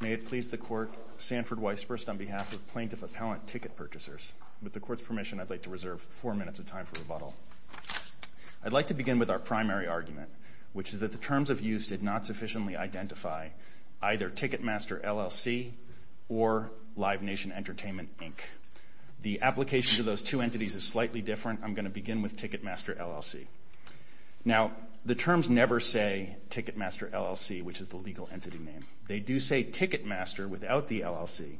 May it please the Court, Sanford Weisburst on behalf of Plaintiff Appellant Ticket Purchasers. With the Court's permission, I'd like to reserve four minutes of time for rebuttal. I'd like to begin with our primary argument, which is that the terms of use did not sufficiently identify either Ticketmaster LLC or Live Nation Entertainment, Inc. The application to those two entities is slightly different. I'm going to begin with Ticketmaster LLC. Now, the terms never say Ticketmaster LLC, which is the legal entity name. They do say Ticketmaster without the LLC,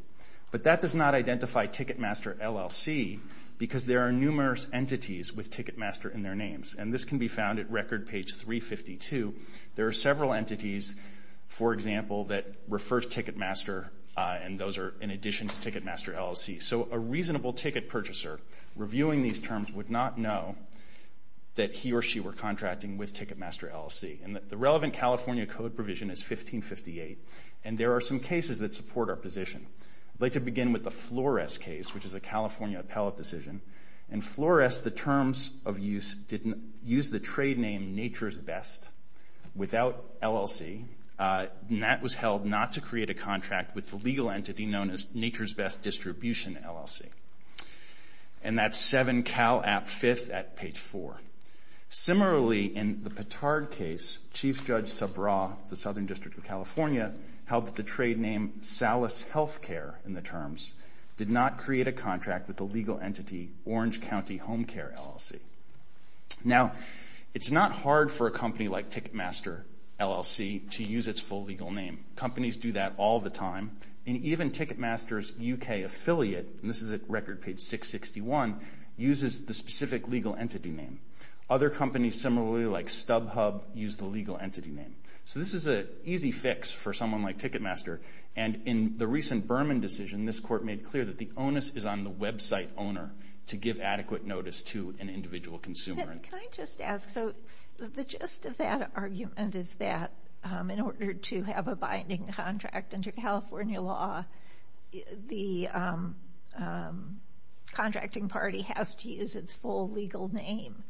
but that does not identify Ticketmaster LLC because there are numerous entities with Ticketmaster in their names, and this can be found at Record page 352. There are several entities, for example, that refer to Ticketmaster, and those are in addition to Ticketmaster LLC. So a reasonable ticket purchaser reviewing these terms would not know that he or she were contracting with Ticketmaster LLC. And the relevant California code provision is 1558, and there are some cases that support our position. I'd like to begin with the Flores case, which is a California appellate decision. In Flores, the terms of use didn't use the trade name Nature's Best without LLC, and that was held not to create a contract with the legal entity known as Nature's Best Distribution LLC. And that's 7 Cal App 5th at page 4. Similarly, in the Petard case, Chief Judge Sabra, the Southern District of California, held that the trade name Salas Healthcare in the terms did not create a contract with the legal entity Orange County Homecare LLC. Now, it's not hard for a company like Ticketmaster LLC to use its full legal name. Companies do that all the time, and even Ticketmaster's U.K. affiliate, and this is at Record page 661, uses the specific legal entity name. Other companies similarly, like StubHub, use the legal entity name. So this is an easy fix for someone like Ticketmaster, and in the recent Berman decision, this court made clear that the onus is on the website owner to give adequate notice to an individual consumer. Can I just ask? So the gist of that argument is that in order to have a binding contract under California law, the contracting party has to use its full legal name.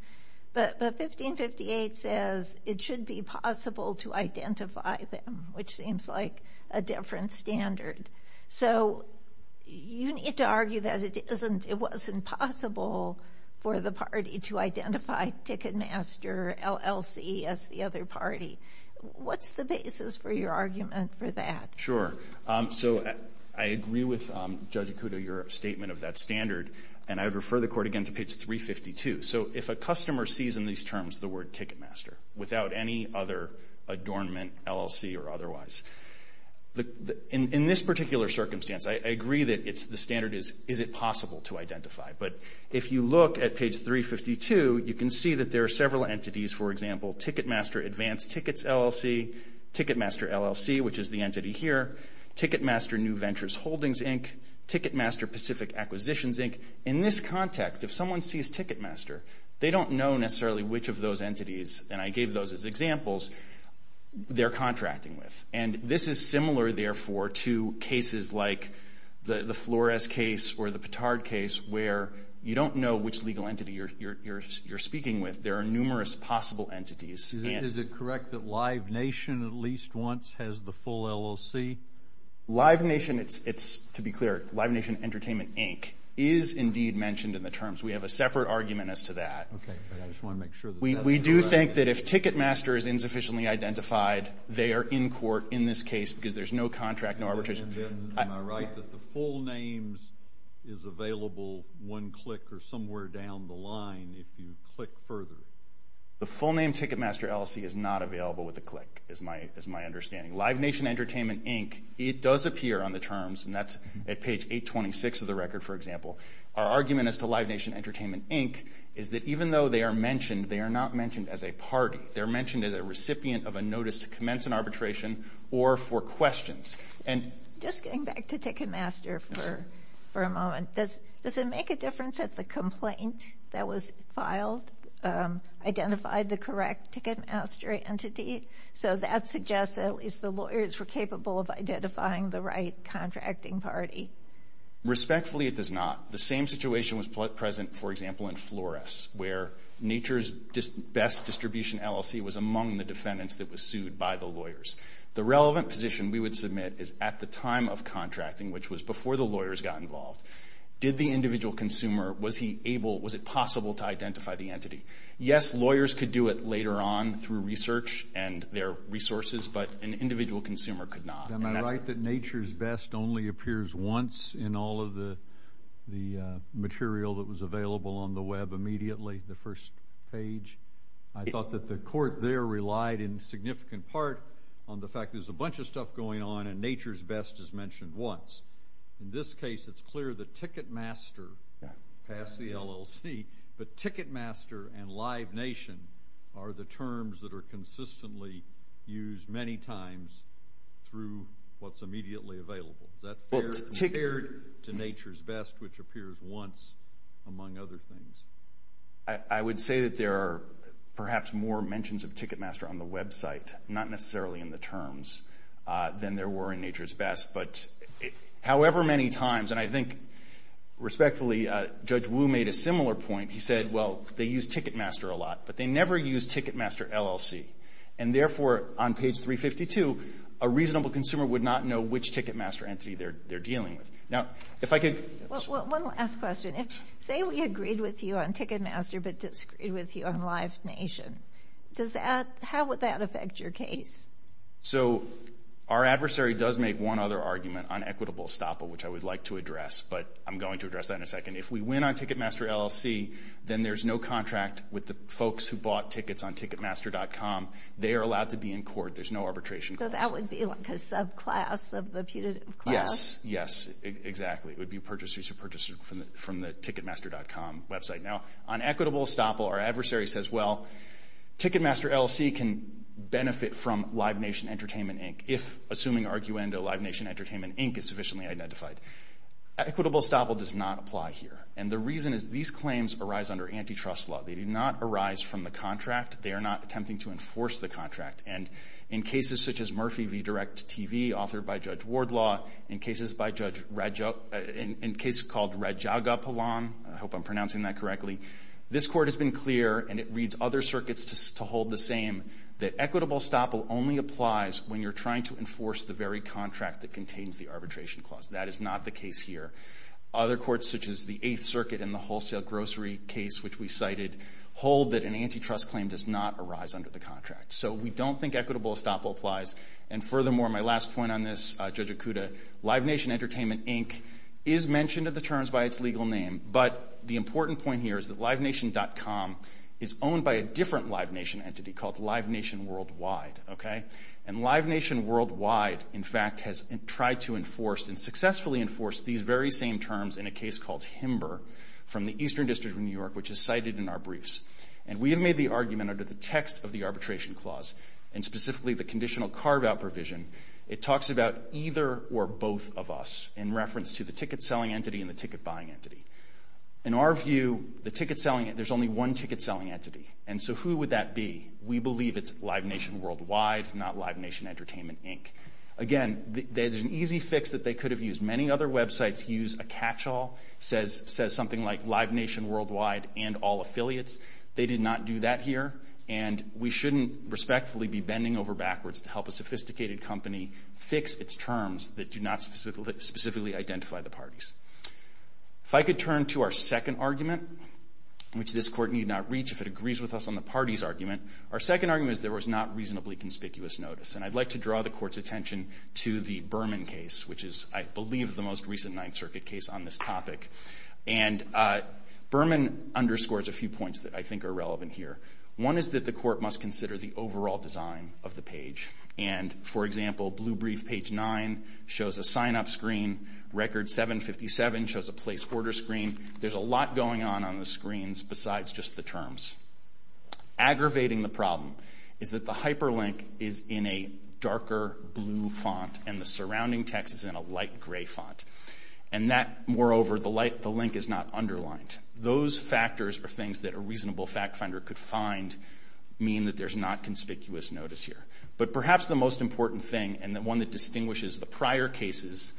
But 1558 says it should be possible to identify them, which seems like a different standard. So you need to argue that it wasn't possible for the party to identify Ticketmaster LLC as the other party. What's the basis for your argument for that? Sure. So I agree with Judge Ikuto, your statement of that standard, and I would refer the court again to page 352. So if a customer sees in these terms the word Ticketmaster without any other adornment, LLC or otherwise, in this particular circumstance, I agree that the standard is, is it possible to identify? But if you look at page 352, you can see that there are several entities. For example, Ticketmaster Advanced Tickets LLC, Ticketmaster LLC, which is the entity here, Ticketmaster New Ventures Holdings, Inc., Ticketmaster Pacific Acquisitions, Inc. In this context, if someone sees Ticketmaster, they don't know necessarily which of those entities, and I gave those as examples, they're contracting with. And this is similar, therefore, to cases like the Flores case or the Petard case where you don't know which legal entity you're speaking with. There are numerous possible entities. Is it correct that Live Nation at least once has the full LLC? Live Nation, it's, to be clear, Live Nation Entertainment, Inc., is indeed mentioned in the terms. We have a separate argument as to that. Okay. We do think that if Ticketmaster is insufficiently identified, they are in court in this case because there's no contract, no arbitration. Am I right that the full names is available one click or somewhere down the line if you click further? The full name Ticketmaster LLC is not available with a click is my understanding. Live Nation Entertainment, Inc., it does appear on the terms, and that's at page 826 of the record, for example. Our argument as to Live Nation Entertainment, Inc. is that even though they are mentioned, they are not mentioned as a party. They're mentioned as a recipient of a notice to commence an arbitration or for questions. Just getting back to Ticketmaster for a moment, does it make a difference if the complaint that was filed identified the correct Ticketmaster entity? So that suggests that at least the lawyers were capable of identifying the right contracting party. Respectfully, it does not. The same situation was present, for example, in Flores where Nature's Best Distribution LLC was among the defendants that were sued by the lawyers. The relevant position we would submit is at the time of contracting, which was before the lawyers got involved, did the individual consumer, was he able, was it possible to identify the entity? Yes, lawyers could do it later on through research and their resources, but an individual consumer could not. Am I right that Nature's Best only appears once in all of the material that was available on the Web immediately, the first page? I thought that the court there relied in significant part on the fact there's a bunch of stuff going on and Nature's Best is mentioned once. In this case, it's clear the Ticketmaster passed the LLC, but Ticketmaster and Live Nation are the terms that are consistently used many times through what's immediately available. Is that compared to Nature's Best, which appears once, among other things? I would say that there are perhaps more mentions of Ticketmaster on the Web site, not necessarily in the terms than there were in Nature's Best. But however many times, and I think, respectfully, Judge Wu made a similar point. He said, well, they use Ticketmaster a lot, but they never use Ticketmaster LLC. And therefore, on page 352, a reasonable consumer would not know which Ticketmaster entity they're dealing with. Now, if I could... One last question. Say we agreed with you on Ticketmaster but disagreed with you on Live Nation. How would that affect your case? So our adversary does make one other argument on equitable estoppel, which I would like to address, but I'm going to address that in a second. If we win on Ticketmaster LLC, then there's no contract with the folks who bought tickets on Ticketmaster.com. They are allowed to be in court. There's no arbitration clause. So that would be like a subclass of the putative class? Yes, yes, exactly. It would be purchasers who purchased from the Ticketmaster.com Web site. Now, on equitable estoppel, our adversary says, well, Ticketmaster LLC can benefit from Live Nation Entertainment, Inc., if, assuming arguendo, Live Nation Entertainment, Inc. is sufficiently identified. Equitable estoppel does not apply here. And the reason is these claims arise under antitrust law. They do not arise from the contract. They are not attempting to enforce the contract. And in cases such as Murphy v. Direct TV, authored by Judge Wardlaw, in cases called Rajagopalan, I hope I'm pronouncing that correctly, this Court has been clear, and it reads other circuits to hold the same, that equitable estoppel only applies when you're trying to enforce the very contract that contains the arbitration clause. That is not the case here. Other courts, such as the Eighth Circuit and the Wholesale Grocery case, which we cited, hold that an antitrust claim does not arise under the contract. So we don't think equitable estoppel applies. And furthermore, my last point on this, Judge Okuda, Live Nation Entertainment, Inc. is mentioned in the terms by its legal name, but the important point here is that LiveNation.com is owned by a different Live Nation entity called Live Nation Worldwide. Okay? And Live Nation Worldwide, in fact, has tried to enforce and successfully enforce these very same terms in a case called Himber from the Eastern District of New York, which is cited in our briefs. And we have made the argument under the text of the arbitration clause, and specifically the conditional carve-out provision, it talks about either or both of us in reference to the ticket-selling entity and the ticket-buying entity. In our view, the ticket-selling entity, there's only one ticket-selling entity. And so who would that be? We believe it's Live Nation Worldwide, not Live Nation Entertainment, Inc. Again, there's an easy fix that they could have used. Many other websites use a catch-all, says something like, Live Nation Worldwide and all affiliates. They did not do that here, and we shouldn't respectfully be bending over backwards to help a sophisticated company fix its terms that do not specifically identify the parties. If I could turn to our second argument, which this Court need not reach if it agrees with us on the parties argument, our second argument is there was not reasonably conspicuous notice. And I'd like to draw the Court's attention to the Berman case, which is, I believe, the most recent Ninth Circuit case on this topic. And Berman underscores a few points that I think are relevant here. One is that the Court must consider the overall design of the page. And, for example, blue brief page 9 shows a sign-up screen. Record 757 shows a place order screen. There's a lot going on on the screens besides just the terms. Aggravating the problem is that the hyperlink is in a darker blue font and the surrounding text is in a light gray font. And that, moreover, the link is not underlined. Those factors are things that a reasonable fact finder could find mean that there's not conspicuous notice here. But perhaps the most important thing, and the one that distinguishes the prior cases,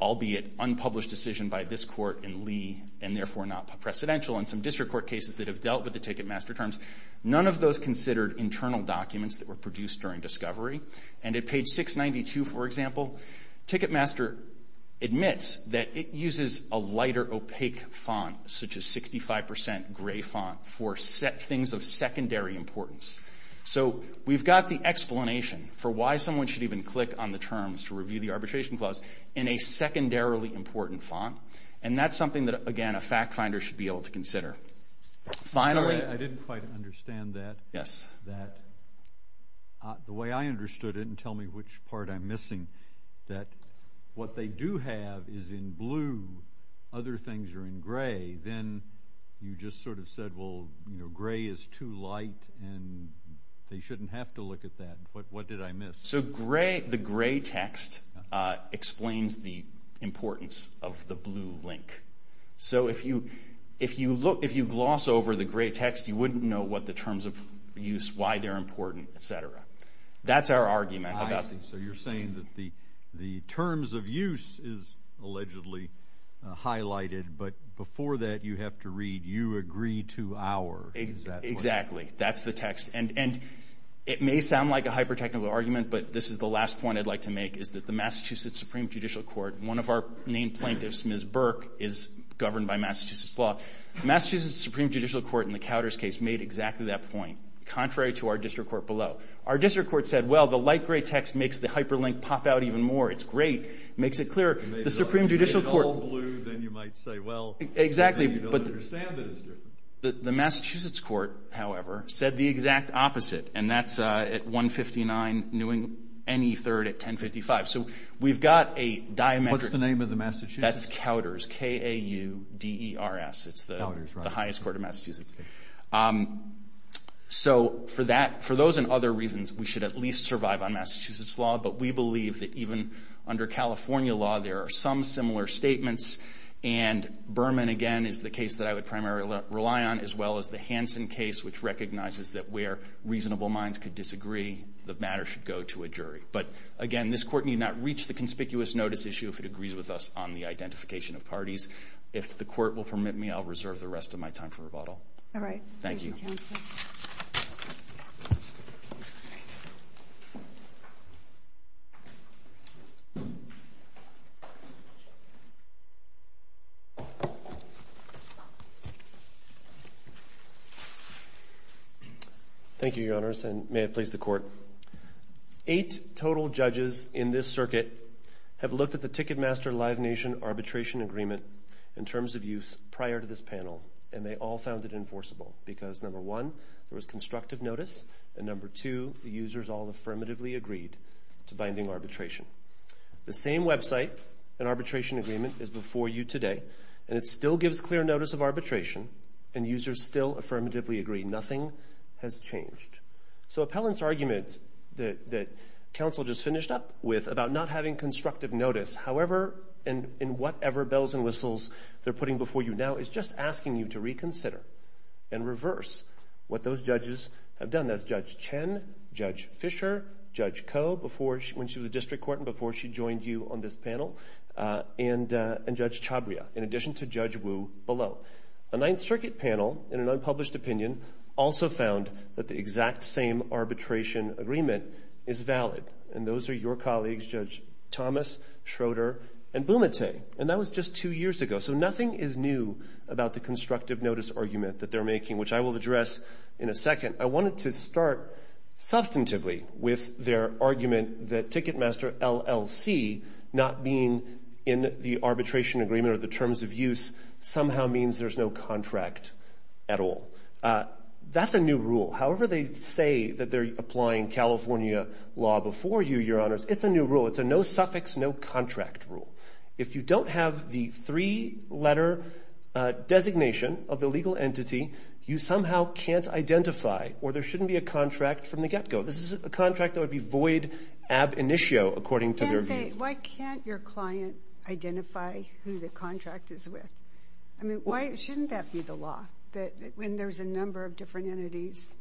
albeit unpublished decision by this Court in Lee and therefore not precedential and some district court cases that have dealt with the Ticketmaster terms, none of those considered internal documents that were produced during discovery. And at page 692, for example, Ticketmaster admits that it uses a lighter opaque font, such as 65% gray font, for things of secondary importance. So we've got the explanation for why someone should even click on the terms to review the arbitration clause in a secondarily important font. And that's something that, again, a fact finder should be able to consider. Finally... I didn't quite understand that. Yes. The way I understood it, and tell me which part I'm missing, that what they do have is in blue, other things are in gray. Then you just sort of said, well, gray is too light and they shouldn't have to look at that. What did I miss? So the gray text explains the importance of the blue link. So if you gloss over the gray text, you wouldn't know what the terms of use, why they're important, etc. That's our argument. I see. So you're saying that the terms of use is allegedly highlighted, but before that you have to read, you agree to our... Exactly. That's the text. And it may sound like a hyper-technical argument, but this is the last point I'd like to make, is that the Massachusetts Supreme Judicial Court, one of our named plaintiffs, Ms. Burke, is governed by Massachusetts law. The Massachusetts Supreme Judicial Court in the Cowder's case made exactly that point, contrary to our district court below. Our district court said, well, the light gray text makes the hyperlink pop out even more. It's great. It makes it clearer. The Supreme Judicial Court... You made it all blue, then you might say, well... Exactly, but... You don't understand that it's different. The Massachusetts court, however, said the exact opposite, and that's at 159 New England, NE 3rd at 1055. So we've got a diametric... What's the name of the Massachusetts? That's Cowder's, K-A-U-D-E-R-S. It's the highest court in Massachusetts. So for those and other reasons, we should at least survive on Massachusetts law, but we believe that even under California law there are some similar statements, and Berman, again, is the case that I would primarily rely on, as well as the Hansen case, which recognizes that where reasonable minds could disagree, the matter should go to a jury. But, again, this court need not reach the conspicuous notice issue if it agrees with us on the identification of parties. If the court will permit me, I'll reserve the rest of my time for rebuttal. All right. Thank you, counsel. Thank you, Your Honors, and may it please the Court. Eight total judges in this circuit have looked at the Ticketmaster Live Nation Arbitration Agreement in terms of use prior to this panel, and they all found it enforceable, because, number one, there was constructive notice, and, number two, the users all affirmatively agreed The same website and arbitration agreement is before you in this case. And it still gives clear notice of arbitration, and users still affirmatively agree. Nothing has changed. So Appellant's argument that counsel just finished up with about not having constructive notice, however and in whatever bells and whistles they're putting before you now, is just asking you to reconsider and reverse what those judges have done. That's Judge Chen, Judge Fisher, Judge Koh, when she was a district court and before she joined you on this panel, and Judge Chabria, in addition to Judge Wu below. A Ninth Circuit panel, in an unpublished opinion, also found that the exact same arbitration agreement is valid, and those are your colleagues, Judge Thomas, Schroeder, and Bumate. And that was just two years ago, so nothing is new about the constructive notice argument that they're making, which I will address in a second. I wanted to start substantively with their argument that Ticketmaster LLC not being in the arbitration agreement or the terms of use somehow means there's no contract at all. That's a new rule. However they say that they're applying California law before you, Your Honors, it's a new rule. It's a no-suffix, no-contract rule. If you don't have the three-letter designation of the legal entity, you somehow can't identify, or there shouldn't be a contract from the get-go. This is a contract that would be void ab initio, according to their view. Why can't your client identify who the contract is with? I mean, why shouldn't that be the law, that when there's a number of different entities,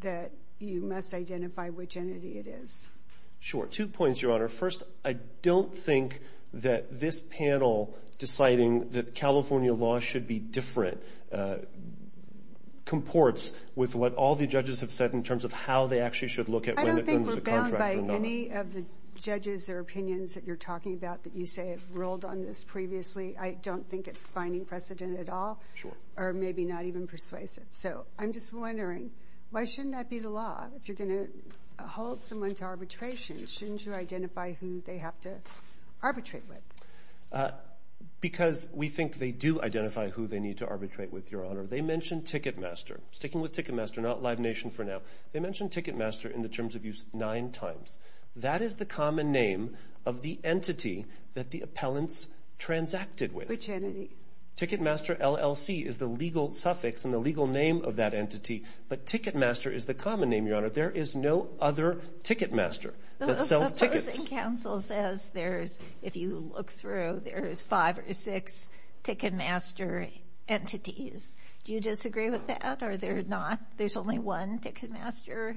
that you must identify which entity it is? Sure. Two points, Your Honor. First, I don't think that this panel deciding that California law should be different comports with what all the judges have said in terms of how they actually should look at when there's a contract or not. I don't think we're bound by any of the judges or opinions that you're talking about that you say have ruled on this previously. I don't think it's finding precedent at all or maybe not even persuasive. So I'm just wondering, why shouldn't that be the law? If you're going to hold someone to arbitration, shouldn't you identify who they have to arbitrate with? Because we think they do identify who they need to arbitrate with, Your Honor. They mentioned Ticketmaster. Sticking with Ticketmaster, not Live Nation for now. They mentioned Ticketmaster in the terms of use nine times. That is the common name of the entity that the appellants transacted with. Which entity? Ticketmaster LLC is the legal suffix and the legal name of that entity. But Ticketmaster is the common name, Your Honor. There is no other Ticketmaster that sells tickets. The opposing counsel says there is, if you look through, there is five or six Ticketmaster entities. Do you disagree with that or they're not? There's only one Ticketmaster?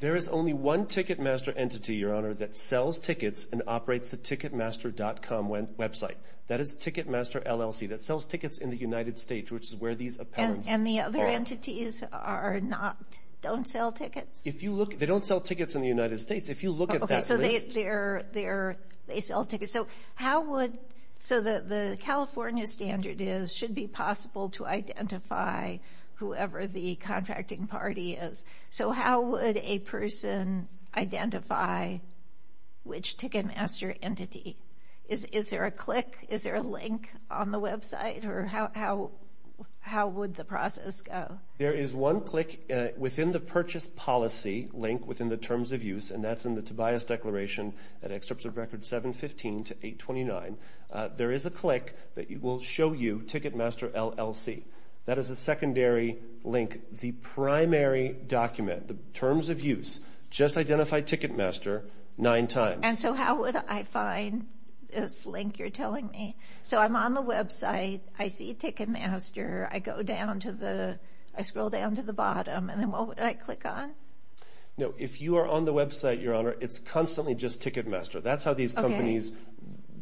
There is only one Ticketmaster entity, Your Honor, that sells tickets and operates the Ticketmaster.com website. That is Ticketmaster LLC. That sells tickets in the United States, which is where these appellants are. And the other entities are not, don't sell tickets? They don't sell tickets in the United States. If you look at that list. Okay, so they sell tickets. So the California standard is it should be possible to identify whoever the contracting party is. So how would a person identify which Ticketmaster entity? Is there a click? Is there a link on the website? Or how would the process go? There is one click within the purchase policy link within the terms of use, and that's in the Tobias Declaration at Excerpts of Records 715 to 829. There is a click that will show you Ticketmaster LLC. That is a secondary link. The primary document, the terms of use, just identify Ticketmaster nine times. And so how would I find this link you're telling me? So I'm on the website, I see Ticketmaster, I scroll down to the bottom, and then what would I click on? No, if you are on the website, Your Honor, it's constantly just Ticketmaster. That's how these companies.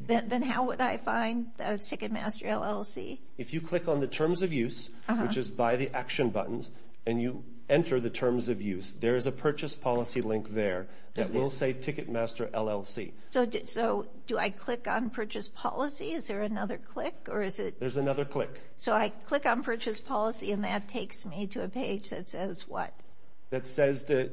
Then how would I find Ticketmaster LLC? If you click on the terms of use, which is by the action button, and you enter the terms of use, there is a purchase policy link there that will say Ticketmaster LLC. So do I click on purchase policy? Is there another click? There's another click. So I click on purchase policy, and that takes me to a page that says what? That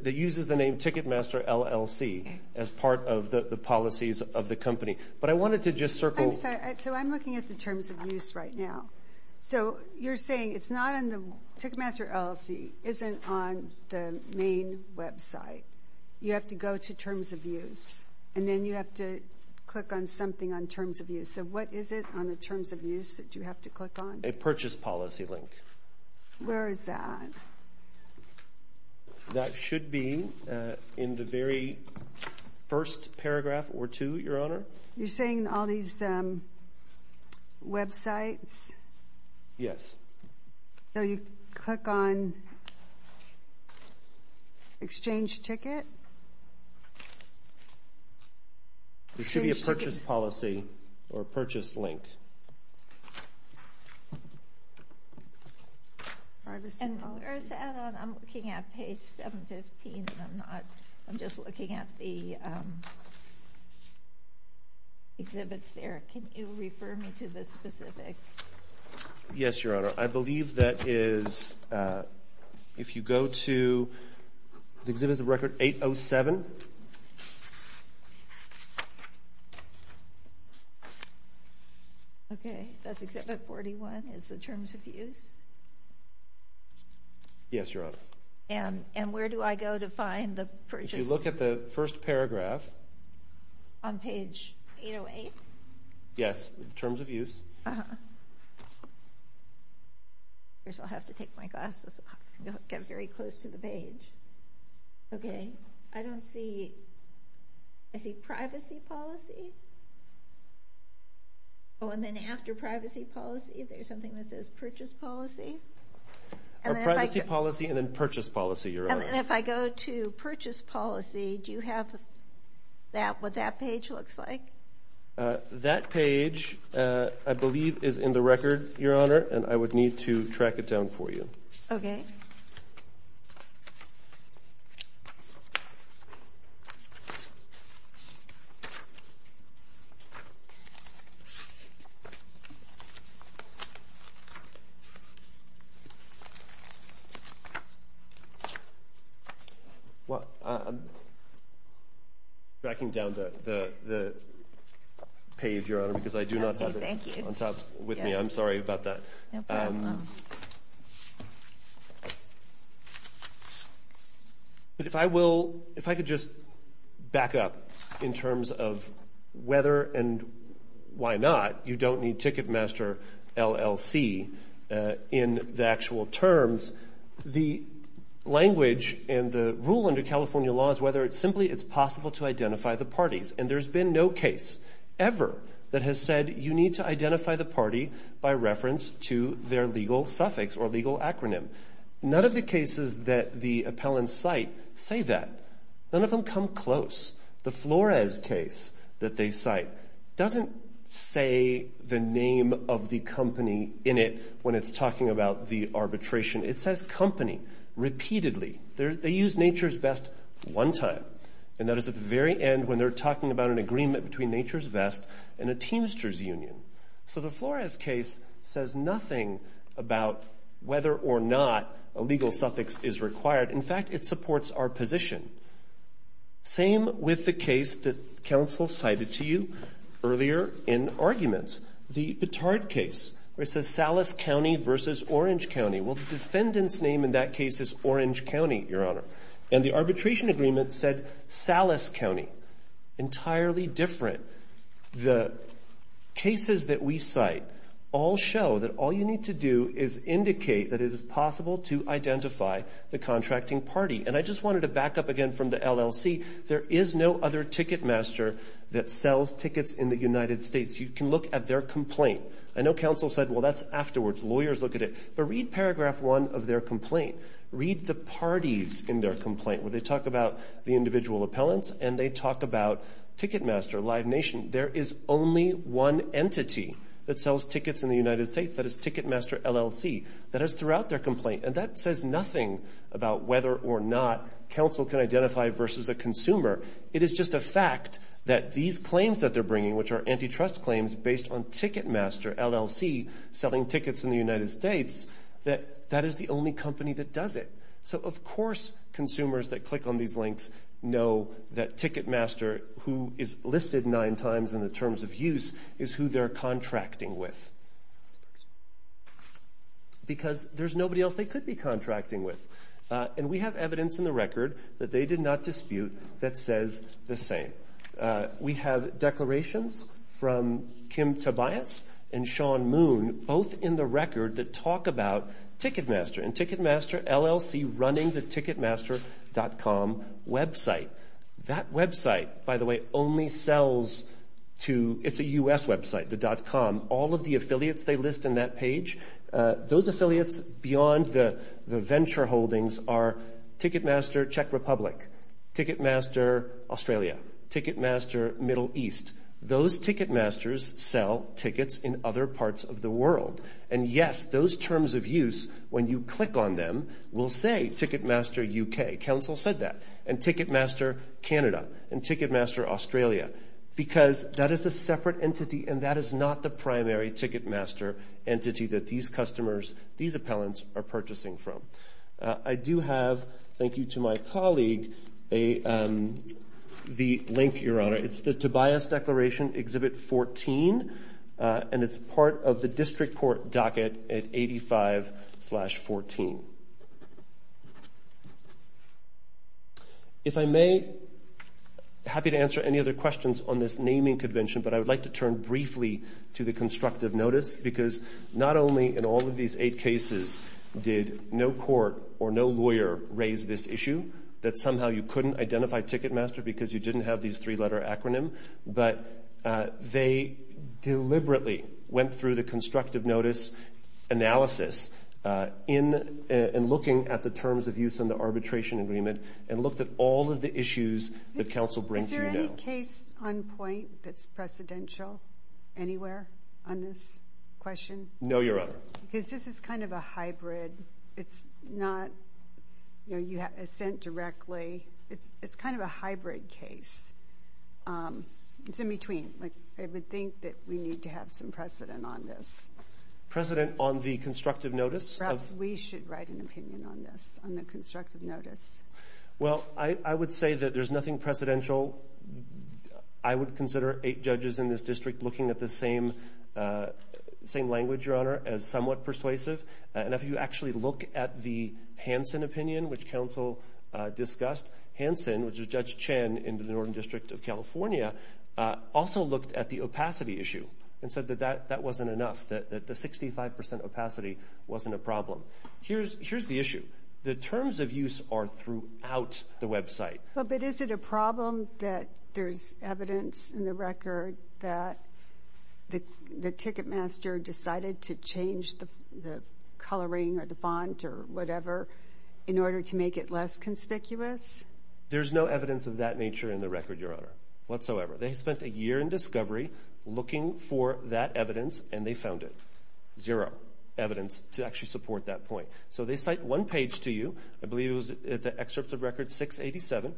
uses the name Ticketmaster LLC as part of the policies of the company. But I wanted to just circle. I'm sorry. So I'm looking at the terms of use right now. So you're saying Ticketmaster LLC isn't on the main website. You have to go to terms of use, and then you have to click on something on terms of use. So what is it on the terms of use that you have to click on? A purchase policy link. Where is that? That should be in the very first paragraph or two, Your Honor. You're saying all these websites? Yes. So you click on exchange ticket? It should be a purchase policy or purchase link. And, Your Honor, I'm looking at page 715, and I'm just looking at the exhibits there. Can you refer me to the specific? Yes, Your Honor. I believe that is if you go to exhibits of record 807. Okay. That's exhibit 41 is the terms of use. Yes, Your Honor. And where do I go to find the purchase? If you look at the first paragraph. On page 808? Yes, terms of use. Uh-huh. First I'll have to take my glasses off and get very close to the page. Okay. I don't see. I see privacy policy. Oh, and then after privacy policy, there's something that says purchase policy. Or privacy policy and then purchase policy, Your Honor. And if I go to purchase policy, do you have what that page looks like? That page I believe is in the record, Your Honor, and I would need to track it down for you. Okay. Well, I'm tracking down the page, Your Honor, because I do not have it on top with me. I'm sorry about that. No problem. But if I will, if I could just back up in terms of whether and why not you don't need Ticketmaster LLC in the actual terms. The language and the rule under California law is whether it's simply it's possible to identify the parties. And there's been no case ever that has said you need to identify the party by reference to their legal suffix or legal acronym. None of the cases that the appellants cite say that. None of them come close. The Flores case that they cite doesn't say the name of the company in it when it's talking about the arbitration. It says company repeatedly. They use nature's best one time. And that is at the very end when they're talking about an agreement between nature's best and a teamster's union. So the Flores case says nothing about whether or not a legal suffix is required. In fact, it supports our position. Same with the case that counsel cited to you earlier in arguments, the Petard case, where it says Salas County versus Orange County. Well, the defendant's name in that case is Orange County, Your Honor. And the arbitration agreement said Salas County. Entirely different. The cases that we cite all show that all you need to do is indicate that it is possible to identify the contracting party. And I just wanted to back up again from the LLC. There is no other ticket master that sells tickets in the United States. You can look at their complaint. I know counsel said, well, that's afterwards. Lawyers look at it. But read paragraph one of their complaint. Read the parties in their complaint where they talk about the individual appellants and they talk about Ticketmaster, Live Nation. There is only one entity that sells tickets in the United States. That is Ticketmaster, LLC. That is throughout their complaint. And that says nothing about whether or not counsel can identify versus a consumer. It is just a fact that these claims that they're bringing, which are antitrust claims based on Ticketmaster, LLC, selling tickets in the United States, that that is the only company that does it. So, of course, consumers that click on these links know that Ticketmaster, who is listed nine times in the terms of use, is who they're contracting with. Because there's nobody else they could be contracting with. And we have evidence in the record that they did not dispute that says the same. We have declarations from Kim Tobias and Sean Moon both in the record that talk about Ticketmaster and Ticketmaster, LLC running the Ticketmaster.com website. That website, by the way, only sells to the U.S. website, the .com. All of the affiliates they list in that page, those affiliates beyond the venture holdings are Ticketmaster Czech Republic, Ticketmaster Australia, Ticketmaster Middle East. Those Ticketmasters sell tickets in other parts of the world. And, yes, those terms of use, when you click on them, will say Ticketmaster UK. Counsel said that. And Ticketmaster Canada and Ticketmaster Australia. Because that is a separate entity and that is not the primary Ticketmaster entity that these customers, these appellants, are purchasing from. I do have, thank you to my colleague, the link, Your Honor. It's the Tobias Declaration, Exhibit 14, and it's part of the district court docket at 85-14. If I may, happy to answer any other questions on this naming convention, but I would like to turn briefly to the constructive notice, because not only in all of these eight cases did no court or no lawyer raise this issue, that somehow you couldn't identify Ticketmaster because you didn't have these three-letter acronym, but they deliberately went through the constructive notice analysis in looking at the terms of use in the arbitration agreement and looked at all of the issues that counsel brings to you. Is there any case on point that's precedential anywhere on this question? No, Your Honor. Because this is kind of a hybrid. It's not, you know, you have assent directly. It's kind of a hybrid case. It's in between. Like, I would think that we need to have some precedent on this. Precedent on the constructive notice? Perhaps we should write an opinion on this, on the constructive notice. Well, I would say that there's nothing precedential. I would consider eight judges in this district looking at the same language, Your Honor, as somewhat persuasive. And if you actually look at the Hansen opinion, which counsel discussed, Hansen, which is Judge Chen in the Northern District of California, also looked at the opacity issue and said that that wasn't enough, that the 65% opacity wasn't a problem. Here's the issue. The terms of use are throughout the website. But is it a problem that there's evidence in the record that the ticketmaster decided to change the coloring or the font or whatever in order to make it less conspicuous? There's no evidence of that nature in the record, Your Honor, whatsoever. They spent a year in discovery looking for that evidence, and they found it. Zero evidence to actually support that point. So they cite one page to you, I believe it was the excerpt of Record 687,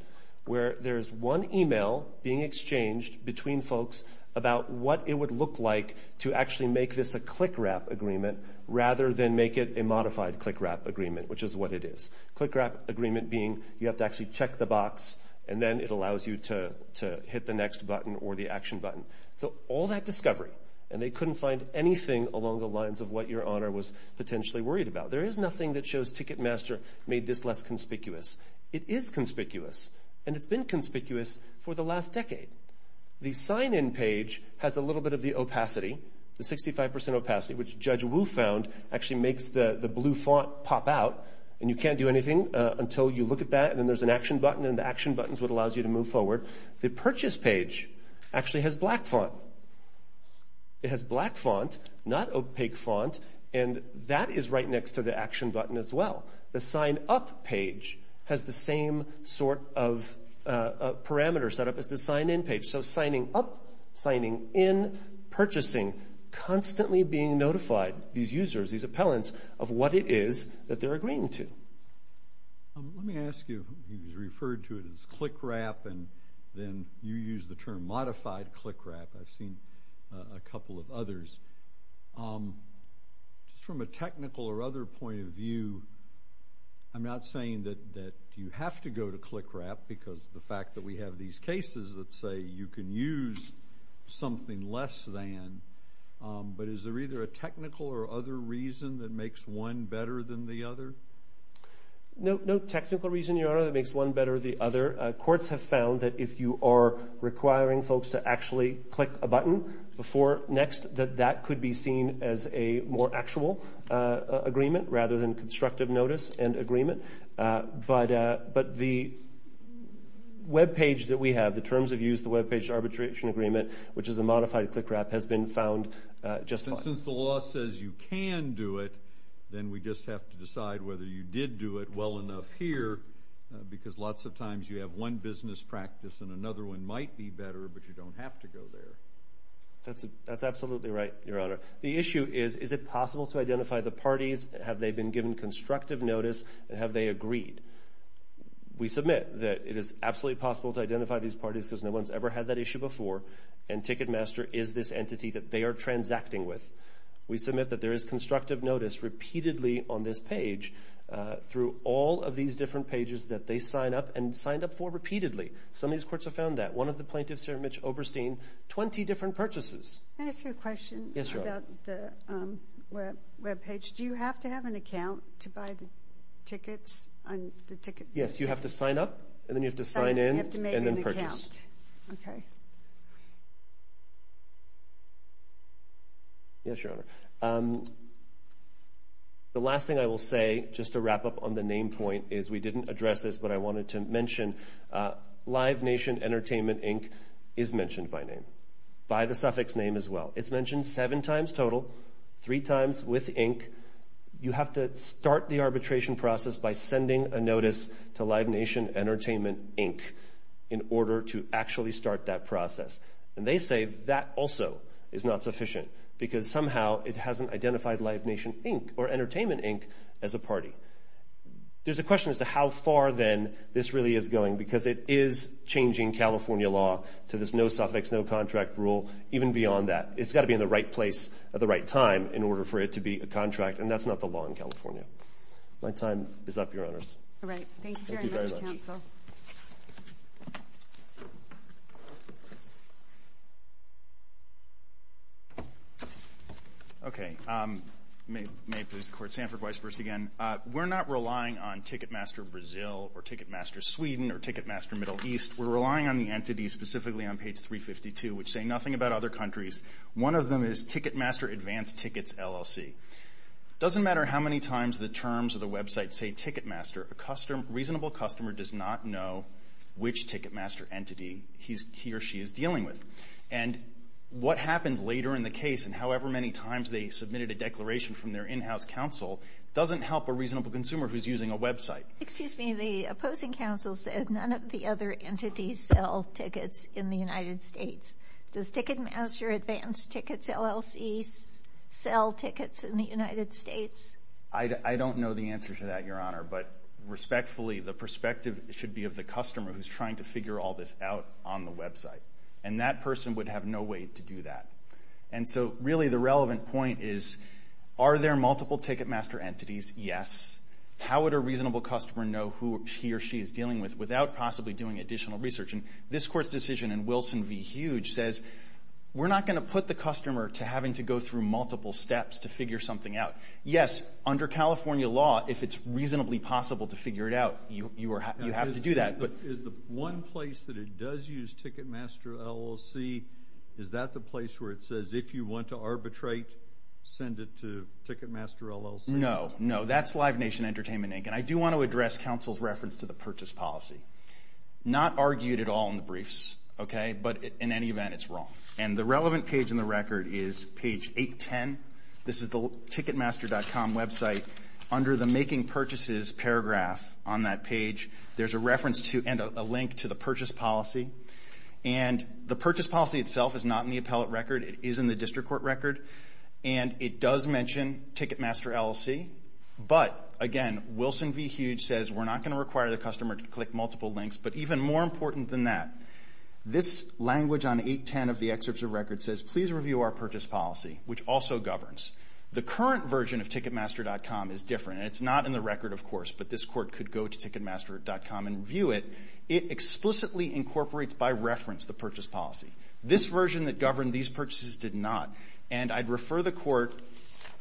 where there's one email being exchanged between folks about what it would look like to actually make this a click-wrap agreement rather than make it a modified click-wrap agreement, which is what it is. Click-wrap agreement being you have to actually check the box, and then it allows you to hit the next button or the action button. So all that discovery, and they couldn't find anything along the lines of what Your Honor was potentially worried about. There is nothing that shows Ticketmaster made this less conspicuous. It is conspicuous, and it's been conspicuous for the last decade. The sign-in page has a little bit of the opacity, the 65 percent opacity, which Judge Wu found actually makes the blue font pop out, and you can't do anything until you look at that, and then there's an action button, and the action button is what allows you to move forward. The purchase page actually has black font. It has black font, not opaque font, and that is right next to the action button as well. The sign-up page has the same sort of parameter set up as the sign-in page, so signing up, signing in, purchasing, constantly being notified, these users, these appellants, of what it is that they're agreeing to. Let me ask you, you referred to it as click-wrap, and then you used the term modified click-wrap. I've seen a couple of others. Just from a technical or other point of view, I'm not saying that you have to go to click-wrap because of the fact that we have these cases that say you can use something less than, but is there either a technical or other reason that makes one better than the other? No technical reason, Your Honor, that makes one better than the other. Courts have found that if you are requiring folks to actually click a button before next, that that could be seen as a more actual agreement rather than constructive notice and agreement, but the web page that we have, the terms of use, the web page arbitration agreement, which is a modified click-wrap, has been found just fine. And since the law says you can do it, then we just have to decide whether you did do it well enough here because lots of times you have one business practice and another one might be better, but you don't have to go there. That's absolutely right, Your Honor. The issue is, is it possible to identify the parties, have they been given constructive notice, and have they agreed? We submit that it is absolutely possible to identify these parties because no one's ever had that issue before, and Ticketmaster is this entity that they are transacting with. We submit that there is constructive notice repeatedly on this page through all of these different pages that they sign up and signed up for repeatedly. Some of these courts have found that. One of the plaintiffs here, Mitch Oberstein, 20 different purchases. Can I ask you a question about the web page? Mitch, do you have to have an account to buy the tickets? Yes, you have to sign up, and then you have to sign in, and then purchase. Okay. Yes, Your Honor. The last thing I will say, just to wrap up on the name point, is we didn't address this, but I wanted to mention Live Nation Entertainment, Inc. is mentioned by name, by the suffix name as well. It's mentioned seven times total, three times with Inc. You have to start the arbitration process by sending a notice to Live Nation Entertainment, Inc. in order to actually start that process. And they say that also is not sufficient because somehow it hasn't identified Live Nation, Inc. or Entertainment, Inc. as a party. There's a question as to how far then this really is going because it is changing California law to this no-suffix, no-contract rule, even beyond that. It's got to be in the right place at the right time in order for it to be a contract, and that's not the law in California. My time is up, Your Honors. All right. Thank you very much, Counsel. Thank you very much. Okay. May it please the Court. Sanford Weisburst again. We're not relying on Ticketmaster Brazil or Ticketmaster Sweden or Ticketmaster Middle East. We're relying on the entities specifically on page 352, which say nothing about other countries. One of them is Ticketmaster Advanced Tickets, LLC. It doesn't matter how many times the terms of the website say Ticketmaster. A reasonable customer does not know which Ticketmaster entity he or she is dealing with. And what happened later in the case, and however many times they submitted a declaration from their in-house counsel, doesn't help a reasonable consumer who's using a website. Excuse me. The opposing counsel said none of the other entities sell tickets in the United States. Does Ticketmaster Advanced Tickets, LLC, sell tickets in the United States? I don't know the answer to that, Your Honor, but respectfully the perspective should be of the customer who's trying to figure all this out on the website, and that person would have no way to do that. And so really the relevant point is are there multiple Ticketmaster entities? Yes. How would a reasonable customer know who he or she is dealing with without possibly doing additional research? And this Court's decision in Wilson v. Huge says we're not going to put the customer to having to go through multiple steps to figure something out. Yes, under California law, if it's reasonably possible to figure it out, you have to do that. Is the one place that it does use Ticketmaster, LLC, is that the place where it says if you want to arbitrate, send it to Ticketmaster, LLC? No, no, that's Live Nation Entertainment, Inc., and I do want to address counsel's reference to the purchase policy. Not argued at all in the briefs, okay, but in any event, it's wrong. And the relevant page in the record is page 810. This is the Ticketmaster.com website. Under the making purchases paragraph on that page, there's a reference to and a link to the purchase policy. And the purchase policy itself is not in the appellate record. It is in the district court record. And it does mention Ticketmaster, LLC, but again, Wilson v. Huge says we're not going to require the customer to click multiple links, but even more important than that, this language on 810 of the excerpts of record says please review our purchase policy, which also governs. The current version of Ticketmaster.com is different. It's not in the record, of course, but this court could go to Ticketmaster.com and view it. It explicitly incorporates by reference the purchase policy. This version that governed these purchases did not. And I'd refer the court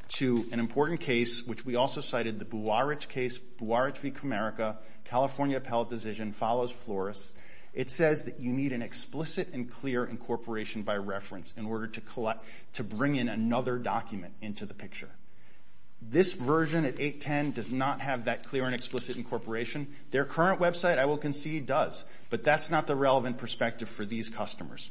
to an important case, which we also cited, the Buarich case, Buarich v. Comerica, California appellate decision, follows Flores. It says that you need an explicit and clear incorporation by reference in order to bring in another document into the picture. This version at 810 does not have that clear and explicit incorporation. Their current website, I will concede, does, but that's not the relevant perspective for these customers.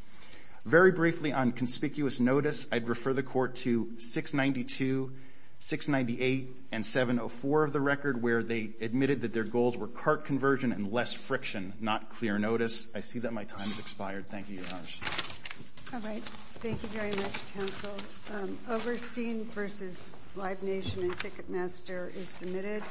Very briefly on conspicuous notice, I'd refer the court to 692, 698, and 704 of the record where they admitted that their goals were cart conversion and less friction, not clear notice. I see that my time has expired. Thank you, Your Honor. All right. Thank you very much, counsel. Oberstein v. Live Nation and Ticketmaster is submitted.